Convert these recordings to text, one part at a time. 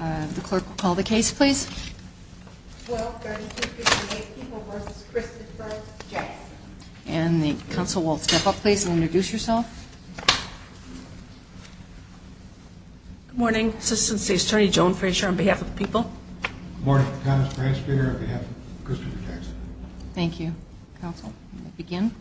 The clerk will call the case, please. And the counsel will step up, please, and introduce yourself. Good morning. Assistant State Attorney Joan Frazier on behalf of the people. Good morning. Thomas Bransfeger on behalf of Christopher Jackson. Thank you. Counsel, begin.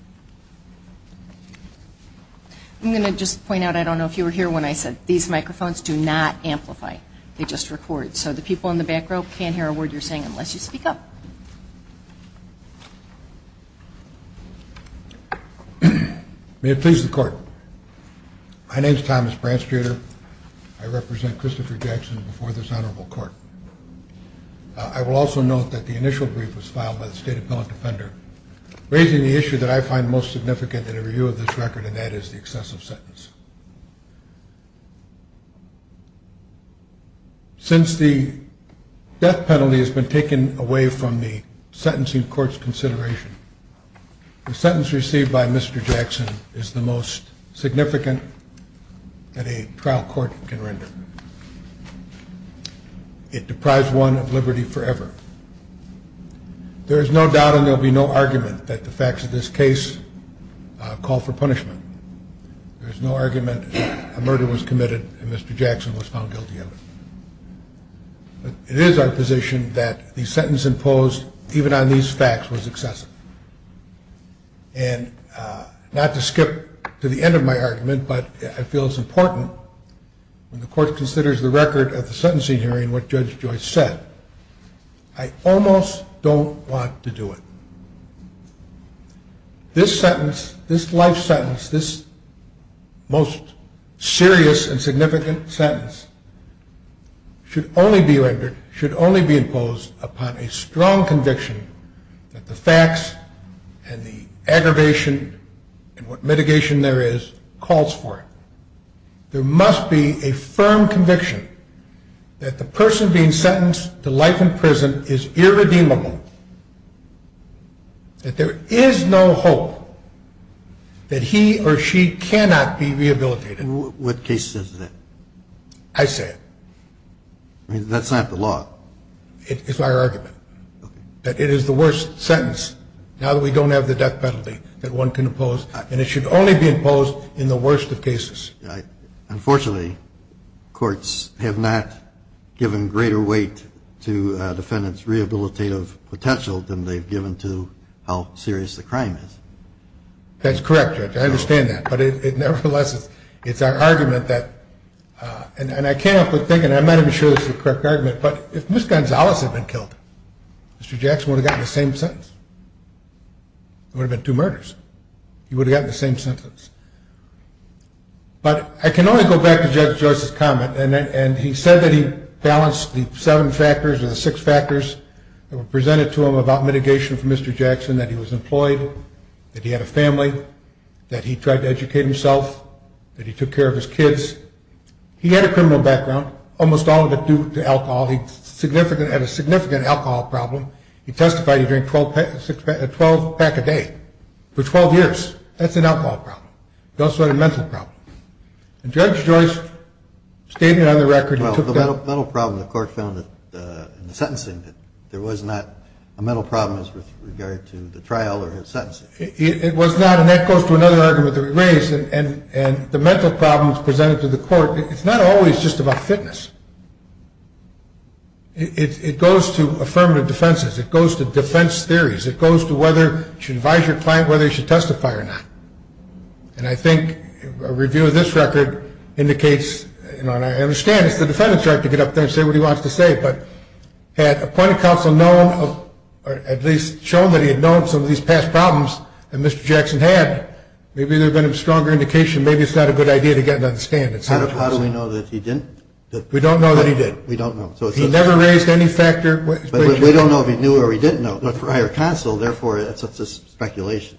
I'm going to just point out, I don't know if you were here when I said these microphones do not amplify, they just record. So the people in the back row can't hear a word you're saying unless you speak up. May it please the Court. My name is Thomas Bransfeger. I represent Christopher Jackson before this Honorable Court. I will also note that the initial brief was filed by the State Appellant Defender, raising the issue that I find most significant in a review of this record, and that is the excessive sentence. Since the death penalty has been taken away from the sentencing court's consideration, the sentence received by Mr. Jackson is the most significant that a trial court can render. It deprives one of liberty forever. There is no doubt and there will be no argument that the facts of this case call for punishment. There is no argument that a murder was committed and Mr. Jackson was found guilty of it. But it is our position that the sentence imposed, even on these facts, was excessive. And not to skip to the end of my argument, but I feel it's important, when the Court considers the record of the sentencing hearing, what Judge Joyce said, I almost don't want to do it. This sentence, this life sentence, this most serious and significant sentence, should only be rendered, should only be imposed upon a strong conviction that the facts and the aggravation and what mitigation there is calls for it. There must be a firm conviction that the person being sentenced to life in prison is irredeemable, that there is no hope that he or she cannot be rehabilitated. What case says that? I say it. That's not the law. It's my argument, that it is the worst sentence, now that we don't have the death penalty, that one can impose, and it should only be imposed in the worst of cases. Unfortunately, courts have not given greater weight to a defendant's rehabilitative potential than they've given to how serious the crime is. That's correct, Judge. I understand that. But nevertheless, it's our argument that, and I came up with thinking, I'm not even sure this is the correct argument, but if Ms. Gonzalez had been killed, Mr. Jackson would have gotten the same sentence. It would have been two murders. He would have gotten the same sentence. But I can only go back to Judge Joyce's comment, and he said that he balanced the seven factors or the six factors that were presented to him about mitigation for Mr. Jackson, that he was employed, that he had a family, that he tried to educate himself, that he took care of his kids. He had a criminal background, almost all of it due to alcohol. He had a significant alcohol problem. He testified he drank a 12-pack a day for 12 years. That's an alcohol problem. It's also a mental problem. And Judge Joyce stated on the record he took that. Well, the mental problem the court found in the sentencing, that there was not a mental problem with regard to the trial or his sentencing. It was not, and that goes to another argument that was raised, and the mental problems presented to the court, it's not always just about fitness. It goes to affirmative defenses. It goes to defense theories. It goes to whether you should advise your client whether he should testify or not. And I think a review of this record indicates, and I understand it's the defendant's right to get up there and say what he wants to say, but had appointed counsel known or at least shown that he had known some of these past problems that Mr. Jackson had, maybe there would have been a stronger indication. Maybe it's not a good idea to get another stand. How do we know that he didn't? We don't know that he did. We don't know. He never raised any factor. We don't know if he knew or he didn't know. But prior counsel, therefore, it's a speculation.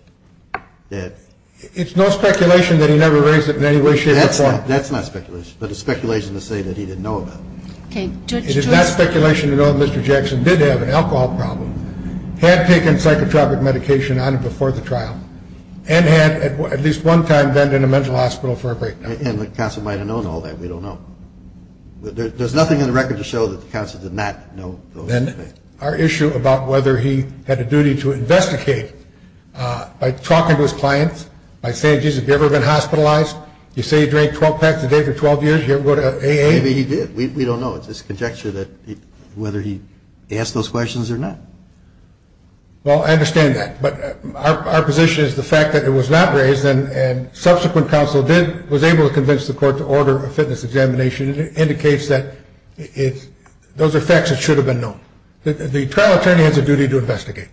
It's no speculation that he never raised it in any way, shape, or form. That's not speculation, but it's speculation to say that he didn't know about it. It is not speculation to know that Mr. Jackson did have an alcohol problem, had taken psychotropic medication on him before the trial, and had at least one time been in a mental hospital for a breakdown. And the counsel might have known all that. We don't know. There's nothing in the record to show that the counsel did not know those things. Then our issue about whether he had a duty to investigate, by talking to his clients, by saying, geez, have you ever been hospitalized? You say he drank 12 packs a day for 12 years. Did he ever go to AA? Maybe he did. We don't know. It's just a conjecture that whether he asked those questions or not. Well, I understand that. But our position is the fact that it was not raised and subsequent counsel was able to convince the court to order a fitness examination indicates that those are facts that should have been known. The trial attorney has a duty to investigate,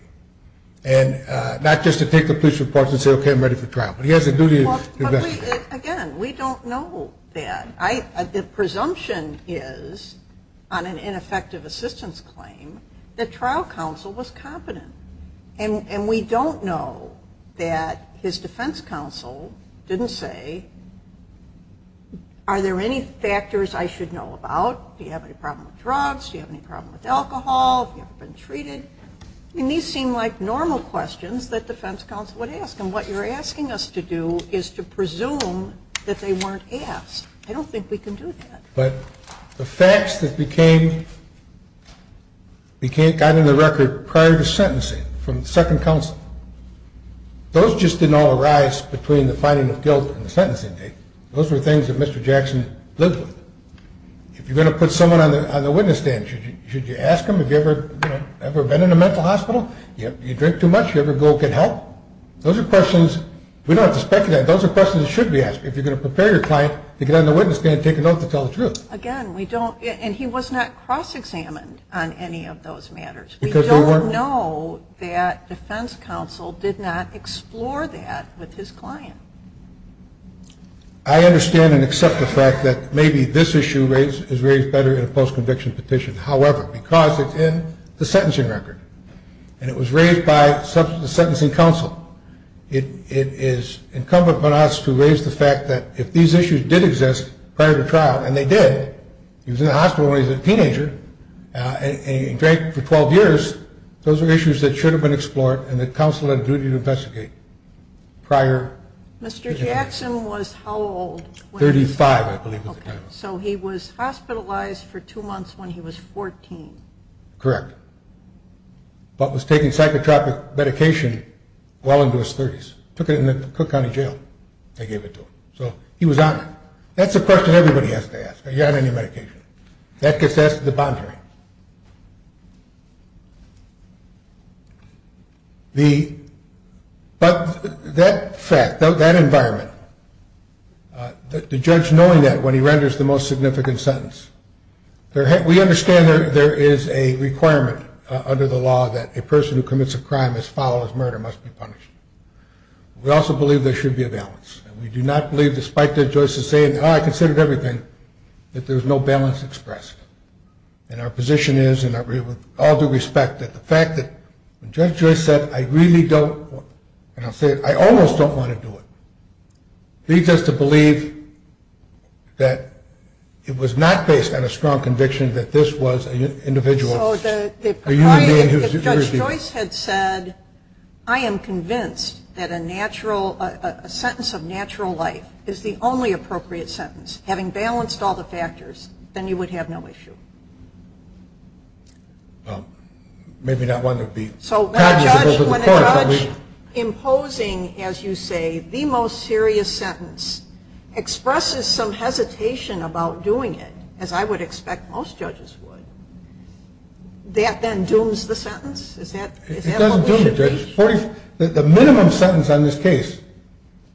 and not just to take the police reports and say, okay, I'm ready for trial. But he has a duty to investigate. Again, we don't know that. The presumption is, on an ineffective assistance claim, that trial counsel was competent. And we don't know that his defense counsel didn't say, are there any factors I should know about? Do you have any problem with drugs? Do you have any problem with alcohol? Have you ever been treated? I mean, these seem like normal questions that defense counsel would ask. And what you're asking us to do is to presume that they weren't asked. I don't think we can do that. But the facts that got on the record prior to sentencing from second counsel, those just didn't all arise between the finding of guilt and the sentencing date. Those were things that Mr. Jackson lived with. If you're going to put someone on the witness stand, should you ask them, have you ever been in a mental hospital? Do you drink too much? Do you ever go get help? Those are questions we don't have to speculate on. Those are questions that should be asked. If you're going to prepare your client to get on the witness stand, take a note to tell the truth. Again, we don't, and he was not cross-examined on any of those matters. We don't know that defense counsel did not explore that with his client. I understand and accept the fact that maybe this issue is raised better in a post-conviction petition. However, because it's in the sentencing record, and it was raised by the sentencing counsel, it is incumbent upon us to raise the fact that if these issues did exist prior to trial, and they did, he was in the hospital when he was a teenager and drank for 12 years, those are issues that should have been explored and that counsel had a duty to investigate prior. Mr. Jackson was how old? 35, I believe. So he was hospitalized for two months when he was 14. Correct. But was taking psychotropic medication well into his 30s. Took it in the Cook County Jail. They gave it to him. So he was on it. That's a question everybody has to ask. Are you on any medication? That gets asked at the bond hearing. But that fact, that environment, the judge knowing that when he renders the most significant sentence, we understand there is a requirement under the law that a person who commits a crime as foul as murder must be punished. We also believe there should be a balance. And we do not believe, despite Judge Joyce's saying, oh, I considered everything, that there's no balance expressed. And our position is, and with all due respect, that the fact that Judge Joyce said, I really don't, I almost don't want to do it, leads us to believe that it was not based on a strong conviction that this was an individual. If Judge Joyce had said, I am convinced that a sentence of natural life is the only appropriate sentence, having balanced all the factors, then you would have no issue. Well, maybe not one that would be cognizable to the court. So when a judge imposing, as you say, the most serious sentence, expresses some hesitation about doing it, as I would expect most judges would, that then dooms the sentence? Is that what we should think? It doesn't doom it, Judge. The minimum sentence on this case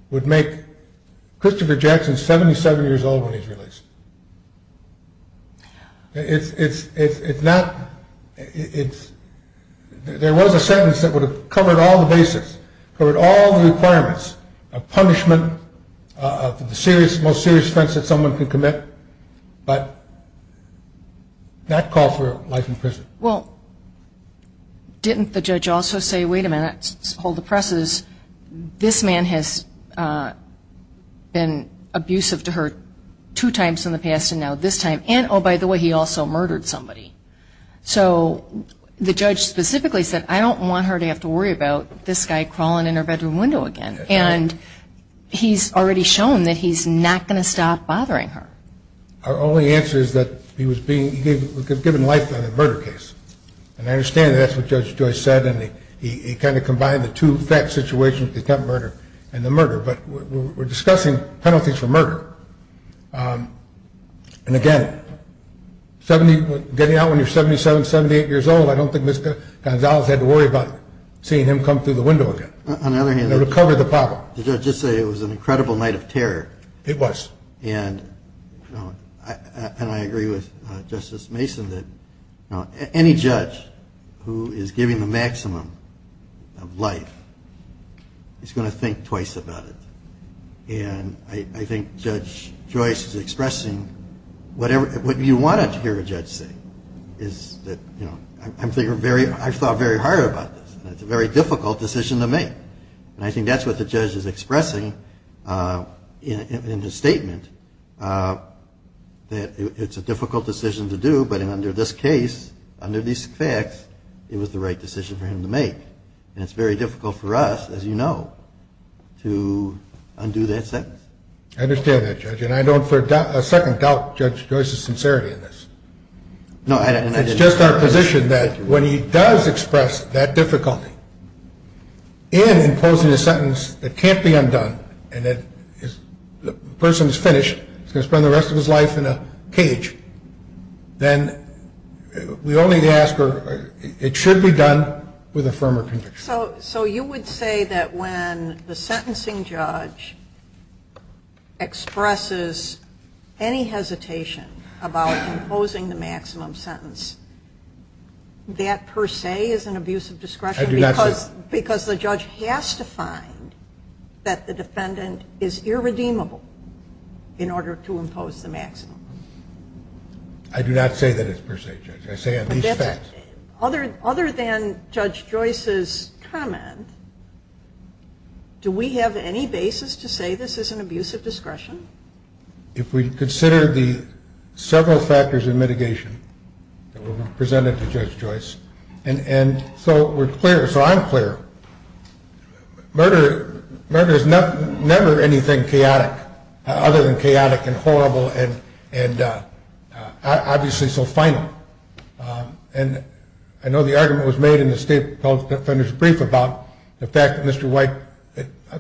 would make Christopher Jackson 77 years old when he's released. It's not, it's, there was a sentence that would have covered all the basics, covered all the requirements of punishment, of the most serious offense that someone could commit, Well, didn't the judge also say, wait a minute, hold the presses, this man has been abusive to her two times in the past and now this time, and oh, by the way, he also murdered somebody. So the judge specifically said, I don't want her to have to worry about this guy crawling in her bedroom window again. And he's already shown that he's not going to stop bothering her. Our only answer is that he was being, he was given life on a murder case. And I understand that that's what Judge Joyce said, and he kind of combined the two fact situations, the attempted murder and the murder. But we're discussing penalties for murder. And again, 70, getting out when you're 77, 78 years old, I don't think Ms. Gonzalez had to worry about seeing him come through the window again. On the other hand, It would cover the problem. Did the judge just say it was an incredible night of terror? It was. And I agree with Justice Mason that any judge who is giving the maximum of life is going to think twice about it. And I think Judge Joyce is expressing whatever, what you want to hear a judge say is that, you know, I'm thinking very, I've thought very hard about this. It's a very difficult decision to make. And I think that's what the judge is expressing in his statement that it's a difficult decision to do. But under this case, under these facts, it was the right decision for him to make. And it's very difficult for us, as you know, to undo that sentence. I understand that, Judge. And I don't for a second doubt Judge Joyce's sincerity in this. No, I didn't. It's just our position that when he does express that difficulty in imposing a sentence that can't be undone and the person is finished, he's going to spend the rest of his life in a cage, then we only ask it should be done with a firmer conviction. So you would say that when the sentencing judge expresses any hesitation about imposing the maximum sentence, that per se is an abuse of discretion because the judge has to find that the defendant is irredeemable in order to impose the maximum. I do not say that it's per se, Judge. I say on these facts. Other than Judge Joyce's comment, do we have any basis to say this is an abuse of discretion? If we consider the several factors of mitigation that were presented to Judge Joyce. And so we're clear, so I'm clear. Murder is never anything chaotic, other than chaotic and horrible and obviously so final. And I know the argument was made in the state public defender's brief about the fact that Mr. White,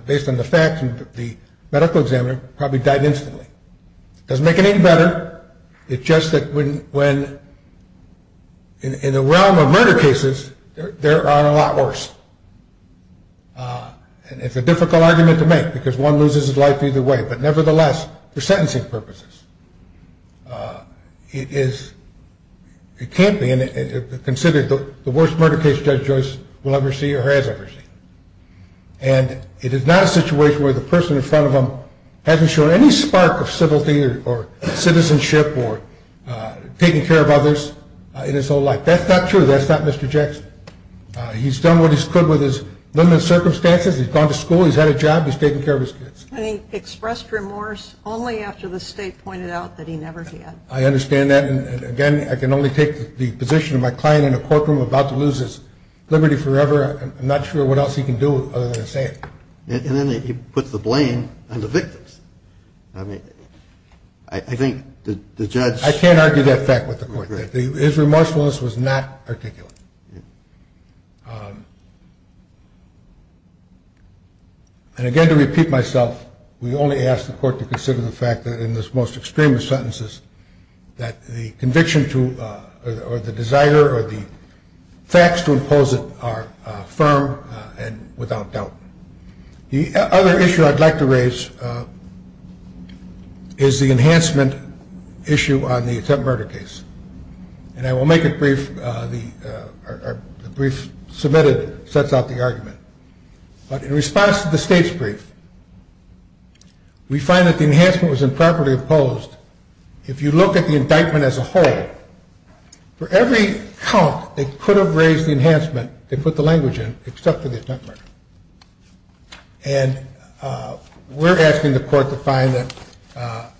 based on the facts and the medical examiner, probably died instantly. Doesn't make it any better. It's just that when in the realm of murder cases, there are a lot worse. And it's a difficult argument to make because one loses his life either way. But nevertheless, for sentencing purposes, it can't be considered the worst murder case Judge Joyce will ever see or has ever seen. And it is not a situation where the person in front of him hasn't shown any spark of civility or citizenship or taken care of others in his whole life. That's not true. That's not Mr. Jackson. He's done what he could with his limited circumstances. He's gone to school. He's had a job. He's taken care of his kids. And he expressed remorse only after the state pointed out that he never did. I understand that. And, again, I can only take the position of my client in a courtroom about to lose his liberty forever. I'm not sure what else he can do other than say it. And then he puts the blame on the victims. I mean, I think the judge – I can't argue that fact with the court. His remorsefulness was not articulate. And, again, to repeat myself, we only ask the court to consider the fact that in this most extreme of sentences, that the conviction or the desire or the facts to impose it are firm and without doubt. The other issue I'd like to raise is the enhancement issue on the attempted murder case. And I will make it brief. The brief submitted sets out the argument. But in response to the state's brief, we find that the enhancement was improperly imposed. If you look at the indictment as a whole, for every count that could have raised the enhancement, they put the language in except for the attempted murder. And we're asking the court to find that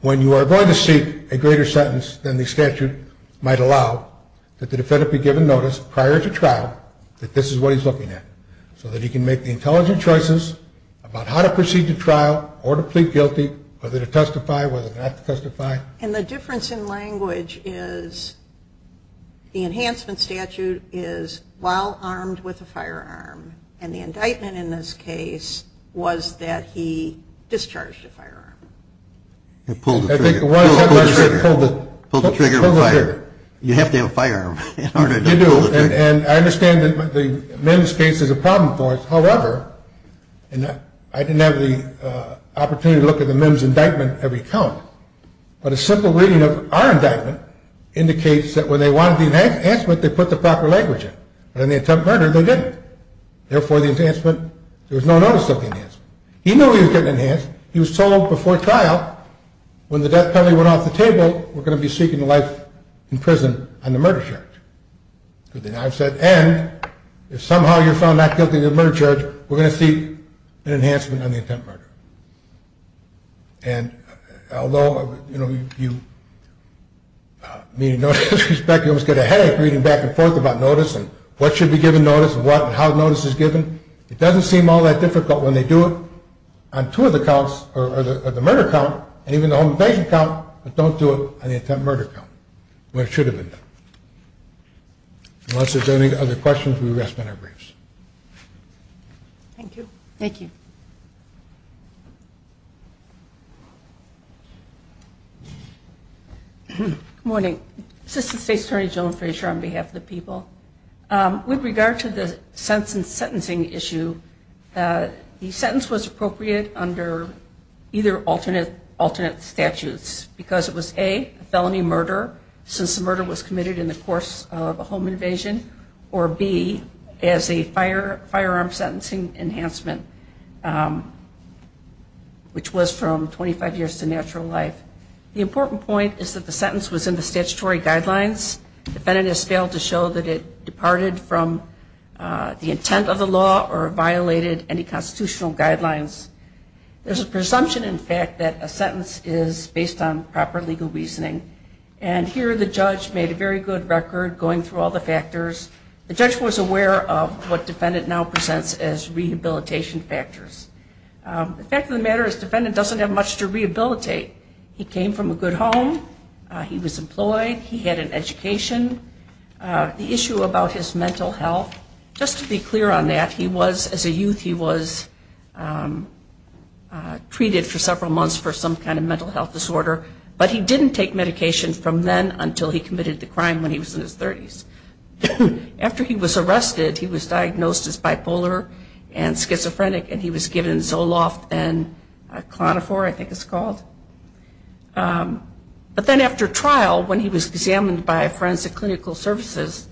when you are going to seek a greater sentence than the statute might allow, that the defendant be given notice prior to trial that this is what he's looking at, so that he can make the intelligent choices about how to proceed to trial or to plead guilty, whether to testify, whether not to testify. And the difference in language is the enhancement statute is while armed with a firearm. And the indictment in this case was that he discharged a firearm. Pulled the trigger. Pulled the trigger. Pulled the trigger. You have to have a firearm in order to pull the trigger. And I understand that the MIMS case is a problem for us. However, and I didn't have the opportunity to look at the MIMS indictment every count, but a simple reading of our indictment indicates that when they wanted the enhancement, they put the proper language in. But in the attempted murder, they didn't. Therefore, the enhancement, there was no notice of the enhancement. He knew he was getting enhanced. He was told before trial when the death penalty went off the table, we're going to be seeking life in prison on the murder charge. And I've said, and if somehow you're found not guilty of the murder charge, we're going to seek an enhancement on the attempted murder. And although, you know, you meet a notice of respect, you almost get a headache reading back and forth about notice and what should be given notice and what and how notice is given. It doesn't seem all that difficult when they do it on two of the counts or the murder count and even the home invasion count, but don't do it on the attempted murder count when it should have been done. Unless there's any other questions, we'll rest on our briefs. Thank you. Thank you. Good morning. Assistant State Attorney Joan Fraser on behalf of the people. With regard to the sentence and sentencing issue, the sentence was appropriate under either alternate statutes because it was, A, a felony murder since the murder was committed in the course of a home invasion, or, B, as a firearm sentencing enhancement, which was from 25 years to natural life. The important point is that the sentence was in the statutory guidelines. Defendant has failed to show that it departed from the intent of the law or violated any constitutional guidelines. There's a presumption, in fact, that a sentence is based on proper legal reasoning. And here the judge made a very good record going through all the factors. The judge was aware of what defendant now presents as rehabilitation factors. The fact of the matter is defendant doesn't have much to rehabilitate. He came from a good home. He was employed. He had an education. The issue about his mental health, just to be clear on that, he was, as a youth, he was treated for several months for some kind of mental health disorder, but he didn't take medication from then until he committed the crime when he was in his 30s. After he was arrested, he was diagnosed as bipolar and schizophrenic, and he was given Zoloft and Klonophor, I think it's called. But then after trial, when he was examined by Forensic Clinical Services,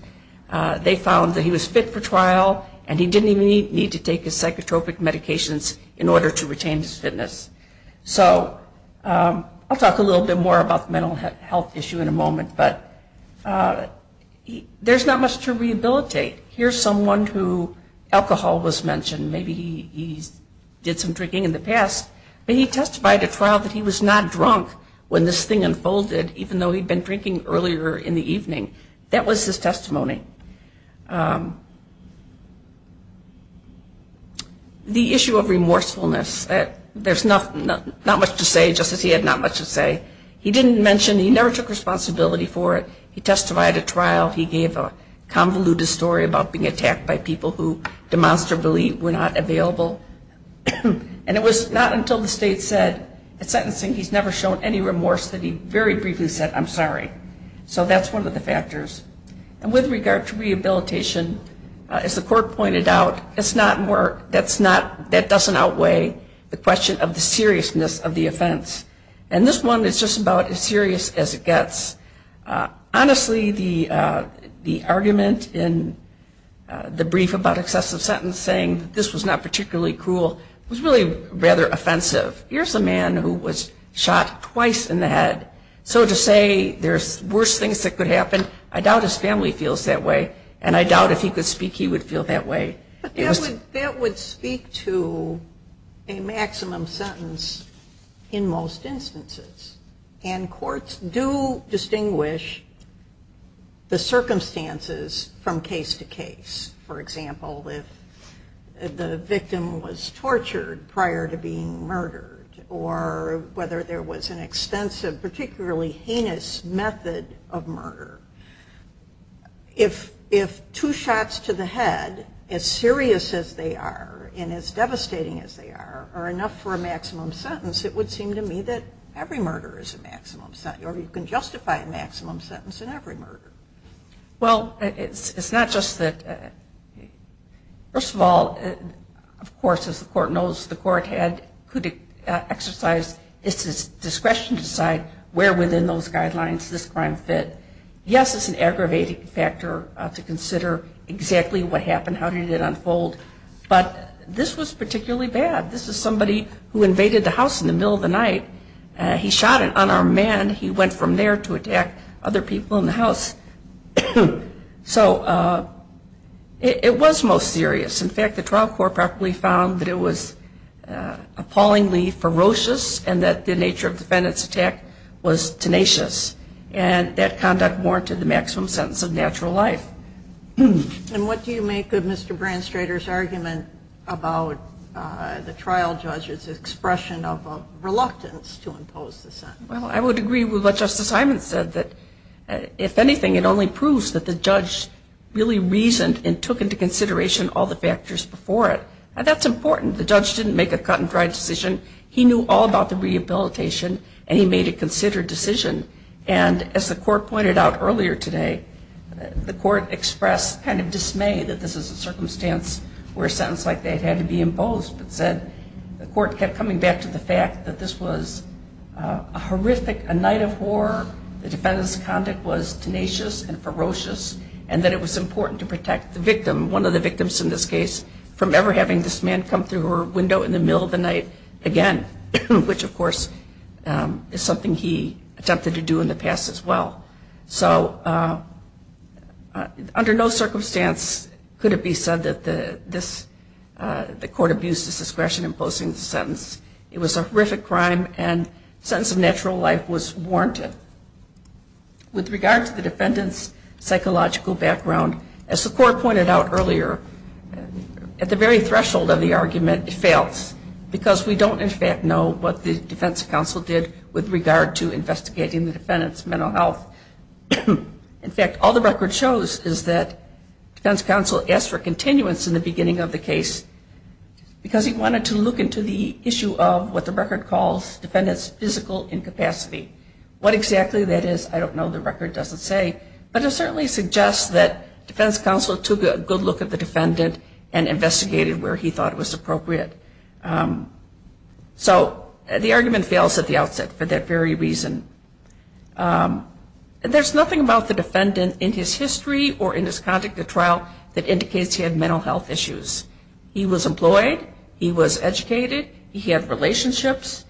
they found that he was fit for trial, and he didn't even need to take his psychotropic medications in order to retain his fitness. So I'll talk a little bit more about the mental health issue in a moment, but there's not much to rehabilitate. Here's someone who alcohol was mentioned. Maybe he did some drinking in the past, but he testified at trial that he was not drunk when this thing unfolded, even though he'd been drinking earlier in the evening. That was his testimony. The issue of remorsefulness. There's not much to say, just as he had not much to say. He didn't mention he never took responsibility for it. He testified at trial. He gave a convoluted story about being attacked by people who demonstrably were not available, and it was not until the state said at sentencing he's never shown any remorse that he very briefly said, I'm sorry. So that's one of the factors. And with regard to rehabilitation, as the court pointed out, that doesn't outweigh the question of the seriousness of the offense. And this one is just about as serious as it gets. Honestly, the argument in the brief about excessive sentencing, this was not particularly cruel, was really rather offensive. Here's a man who was shot twice in the head. So to say there's worse things that could happen, I doubt his family feels that way, and I doubt if he could speak he would feel that way. That would speak to a maximum sentence in most instances. And courts do distinguish the circumstances from case to case. For example, if the victim was tortured prior to being murdered, or whether there was an extensive, particularly heinous method of murder, if two shots to the head, as serious as they are and as devastating as they are, are enough for a maximum sentence, it would seem to me that every murder is a maximum sentence, or you can justify a maximum sentence in every murder. Well, it's not just that. First of all, of course, as the court knows, the court could exercise its discretion to decide where within those guidelines this crime fit. Yes, it's an aggravating factor to consider exactly what happened, how did it unfold. But this was particularly bad. This is somebody who invaded the house in the middle of the night. He shot an unarmed man. He went from there to attack other people in the house. So it was most serious. In fact, the trial court probably found that it was appallingly ferocious and that the nature of the defendant's attack was tenacious. And that conduct warranted the maximum sentence of natural life. And what do you make of Mr. Branstrader's argument about the trial judge's expression of a reluctance to impose the sentence? Well, I would agree with what Justice Hyman said, that if anything, it only proves that the judge really reasoned and took into consideration all the factors before it. And that's important. The judge didn't make a cut-and-dry decision. He knew all about the rehabilitation, and he made a considered decision. And as the court pointed out earlier today, the court expressed kind of dismay that this is a circumstance where a sentence like that had to be imposed, but said the court kept coming back to the fact that this was a horrific night of war, the defendant's conduct was tenacious and ferocious, and that it was important to protect the victim, one of the victims in this case, from ever having this man come through her window in the middle of the night again, which, of course, is something he attempted to do in the past as well. So under no circumstance could it be said that the court abused his discretion in imposing the sentence. It was a horrific crime, and the sentence of natural life was warranted. With regard to the defendant's psychological background, as the court pointed out earlier, at the very threshold of the argument, it fails, because we don't, in fact, know what the defense counsel did with regard to investigating the defendant's mental health. In fact, all the record shows is that defense counsel asked for continuance in the beginning of the case, because he wanted to look into the issue of what the record calls defendant's physical incapacity. What exactly that is, I don't know. The record doesn't say. But it certainly suggests that defense counsel took a good look at the defendant and investigated where he thought it was appropriate. So the argument fails at the outset for that very reason. There's nothing about the defendant in his history or in his conduct at trial that indicates he had mental health issues. He was employed. He was educated. He had relationships.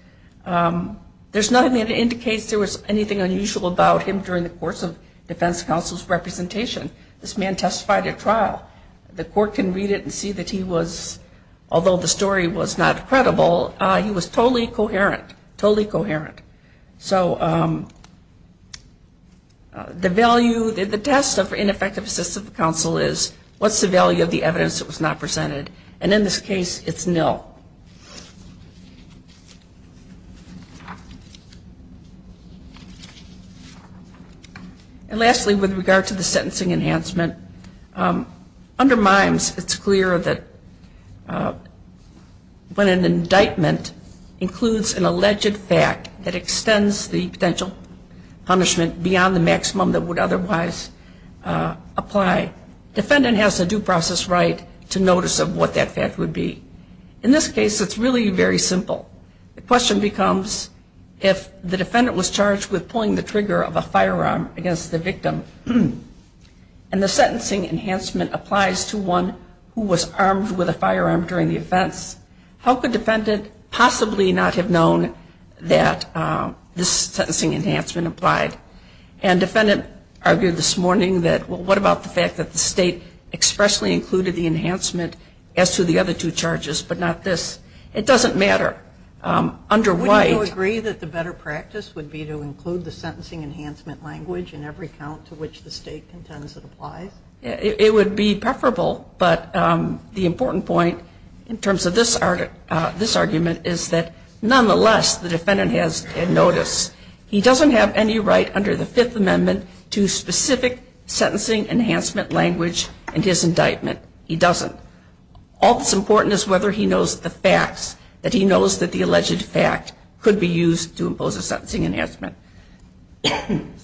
There's nothing that indicates there was anything unusual about him during the course of defense counsel's representation. This man testified at trial. The court can read it and see that he was, although the story was not credible, he was totally coherent, totally coherent. So the value, the test of ineffective assistance of counsel is, what's the value of the evidence that was not presented? And in this case, it's nil. And lastly, with regard to the sentencing enhancement, under MIMES it's clear that when an indictment includes an alleged fact that extends the potential punishment beyond the maximum that would otherwise apply, defendant has a due process right to notice of what that fact would be. In this case, it's really very simple. The question becomes, if the defendant was charged with pulling the trigger of a firearm against the victim and the sentencing enhancement applies to one who was armed with a firearm during the offense, how could defendant possibly not have known that this sentencing enhancement applied? And defendant argued this morning that, well, what about the fact that the state expressly included the enhancement as to the other two charges, but not this? It doesn't matter. Under White- Would you agree that the better practice would be to include the sentencing enhancement language in every count to which the state contends it applies? It would be preferable, but the important point in terms of this argument is that, nonetheless, the defendant has a notice. He doesn't have any right under the Fifth Amendment to specific sentencing enhancement language in his indictment. He doesn't. All that's important is whether he knows the facts, that he knows that the alleged fact could be used to impose a sentencing enhancement. And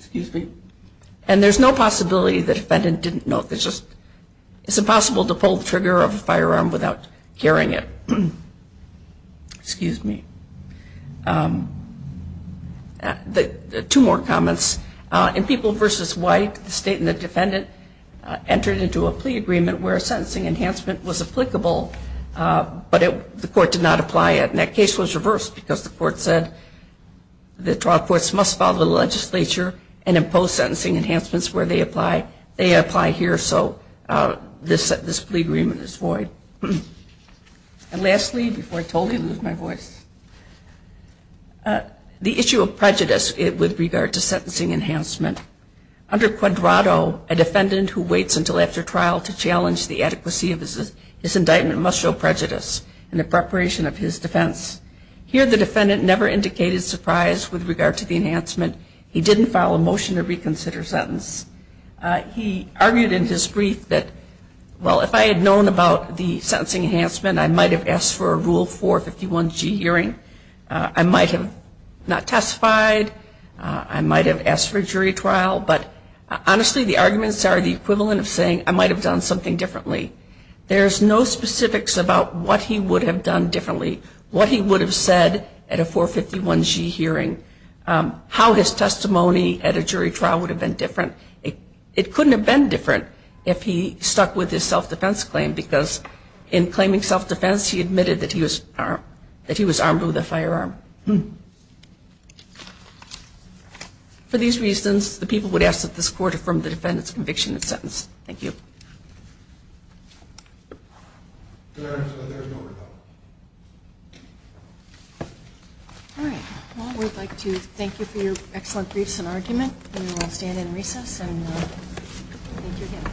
there's no possibility the defendant didn't know. It's impossible to pull the trigger of a firearm without hearing it. Excuse me. Two more comments. In People v. White, the state and the defendant entered into a plea agreement where a sentencing enhancement was applicable, but the court did not apply it. And that case was reversed because the court said the trial courts must follow the legislature and impose sentencing enhancements where they apply. They apply here, so this plea agreement is void. And lastly, before I totally lose my voice, the issue of prejudice with regard to sentencing enhancement. Under Quadrato, a defendant who waits until after trial to challenge the adequacy of his indictment must show prejudice in the preparation of his defense. Here the defendant never indicated surprise with regard to the enhancement. He didn't file a motion to reconsider sentence. He argued in his brief that, well, if I had known about the sentencing enhancement, I might have asked for a Rule 451G hearing. I might have not testified. I might have asked for a jury trial. But honestly, the arguments are the equivalent of saying I might have done something differently. There's no specifics about what he would have done differently, what he would have said at a 451G hearing, how his testimony at a jury trial would have been different. It couldn't have been different if he stuck with his self-defense claim because in claiming self-defense he admitted that he was armed with a firearm. For these reasons, the people would ask that this court affirm the defendant's conviction and sentence. Thank you. There is no rebuttal. All right. Well, we'd like to thank you for your excellent briefs and argument. We will stand in recess and thank you again.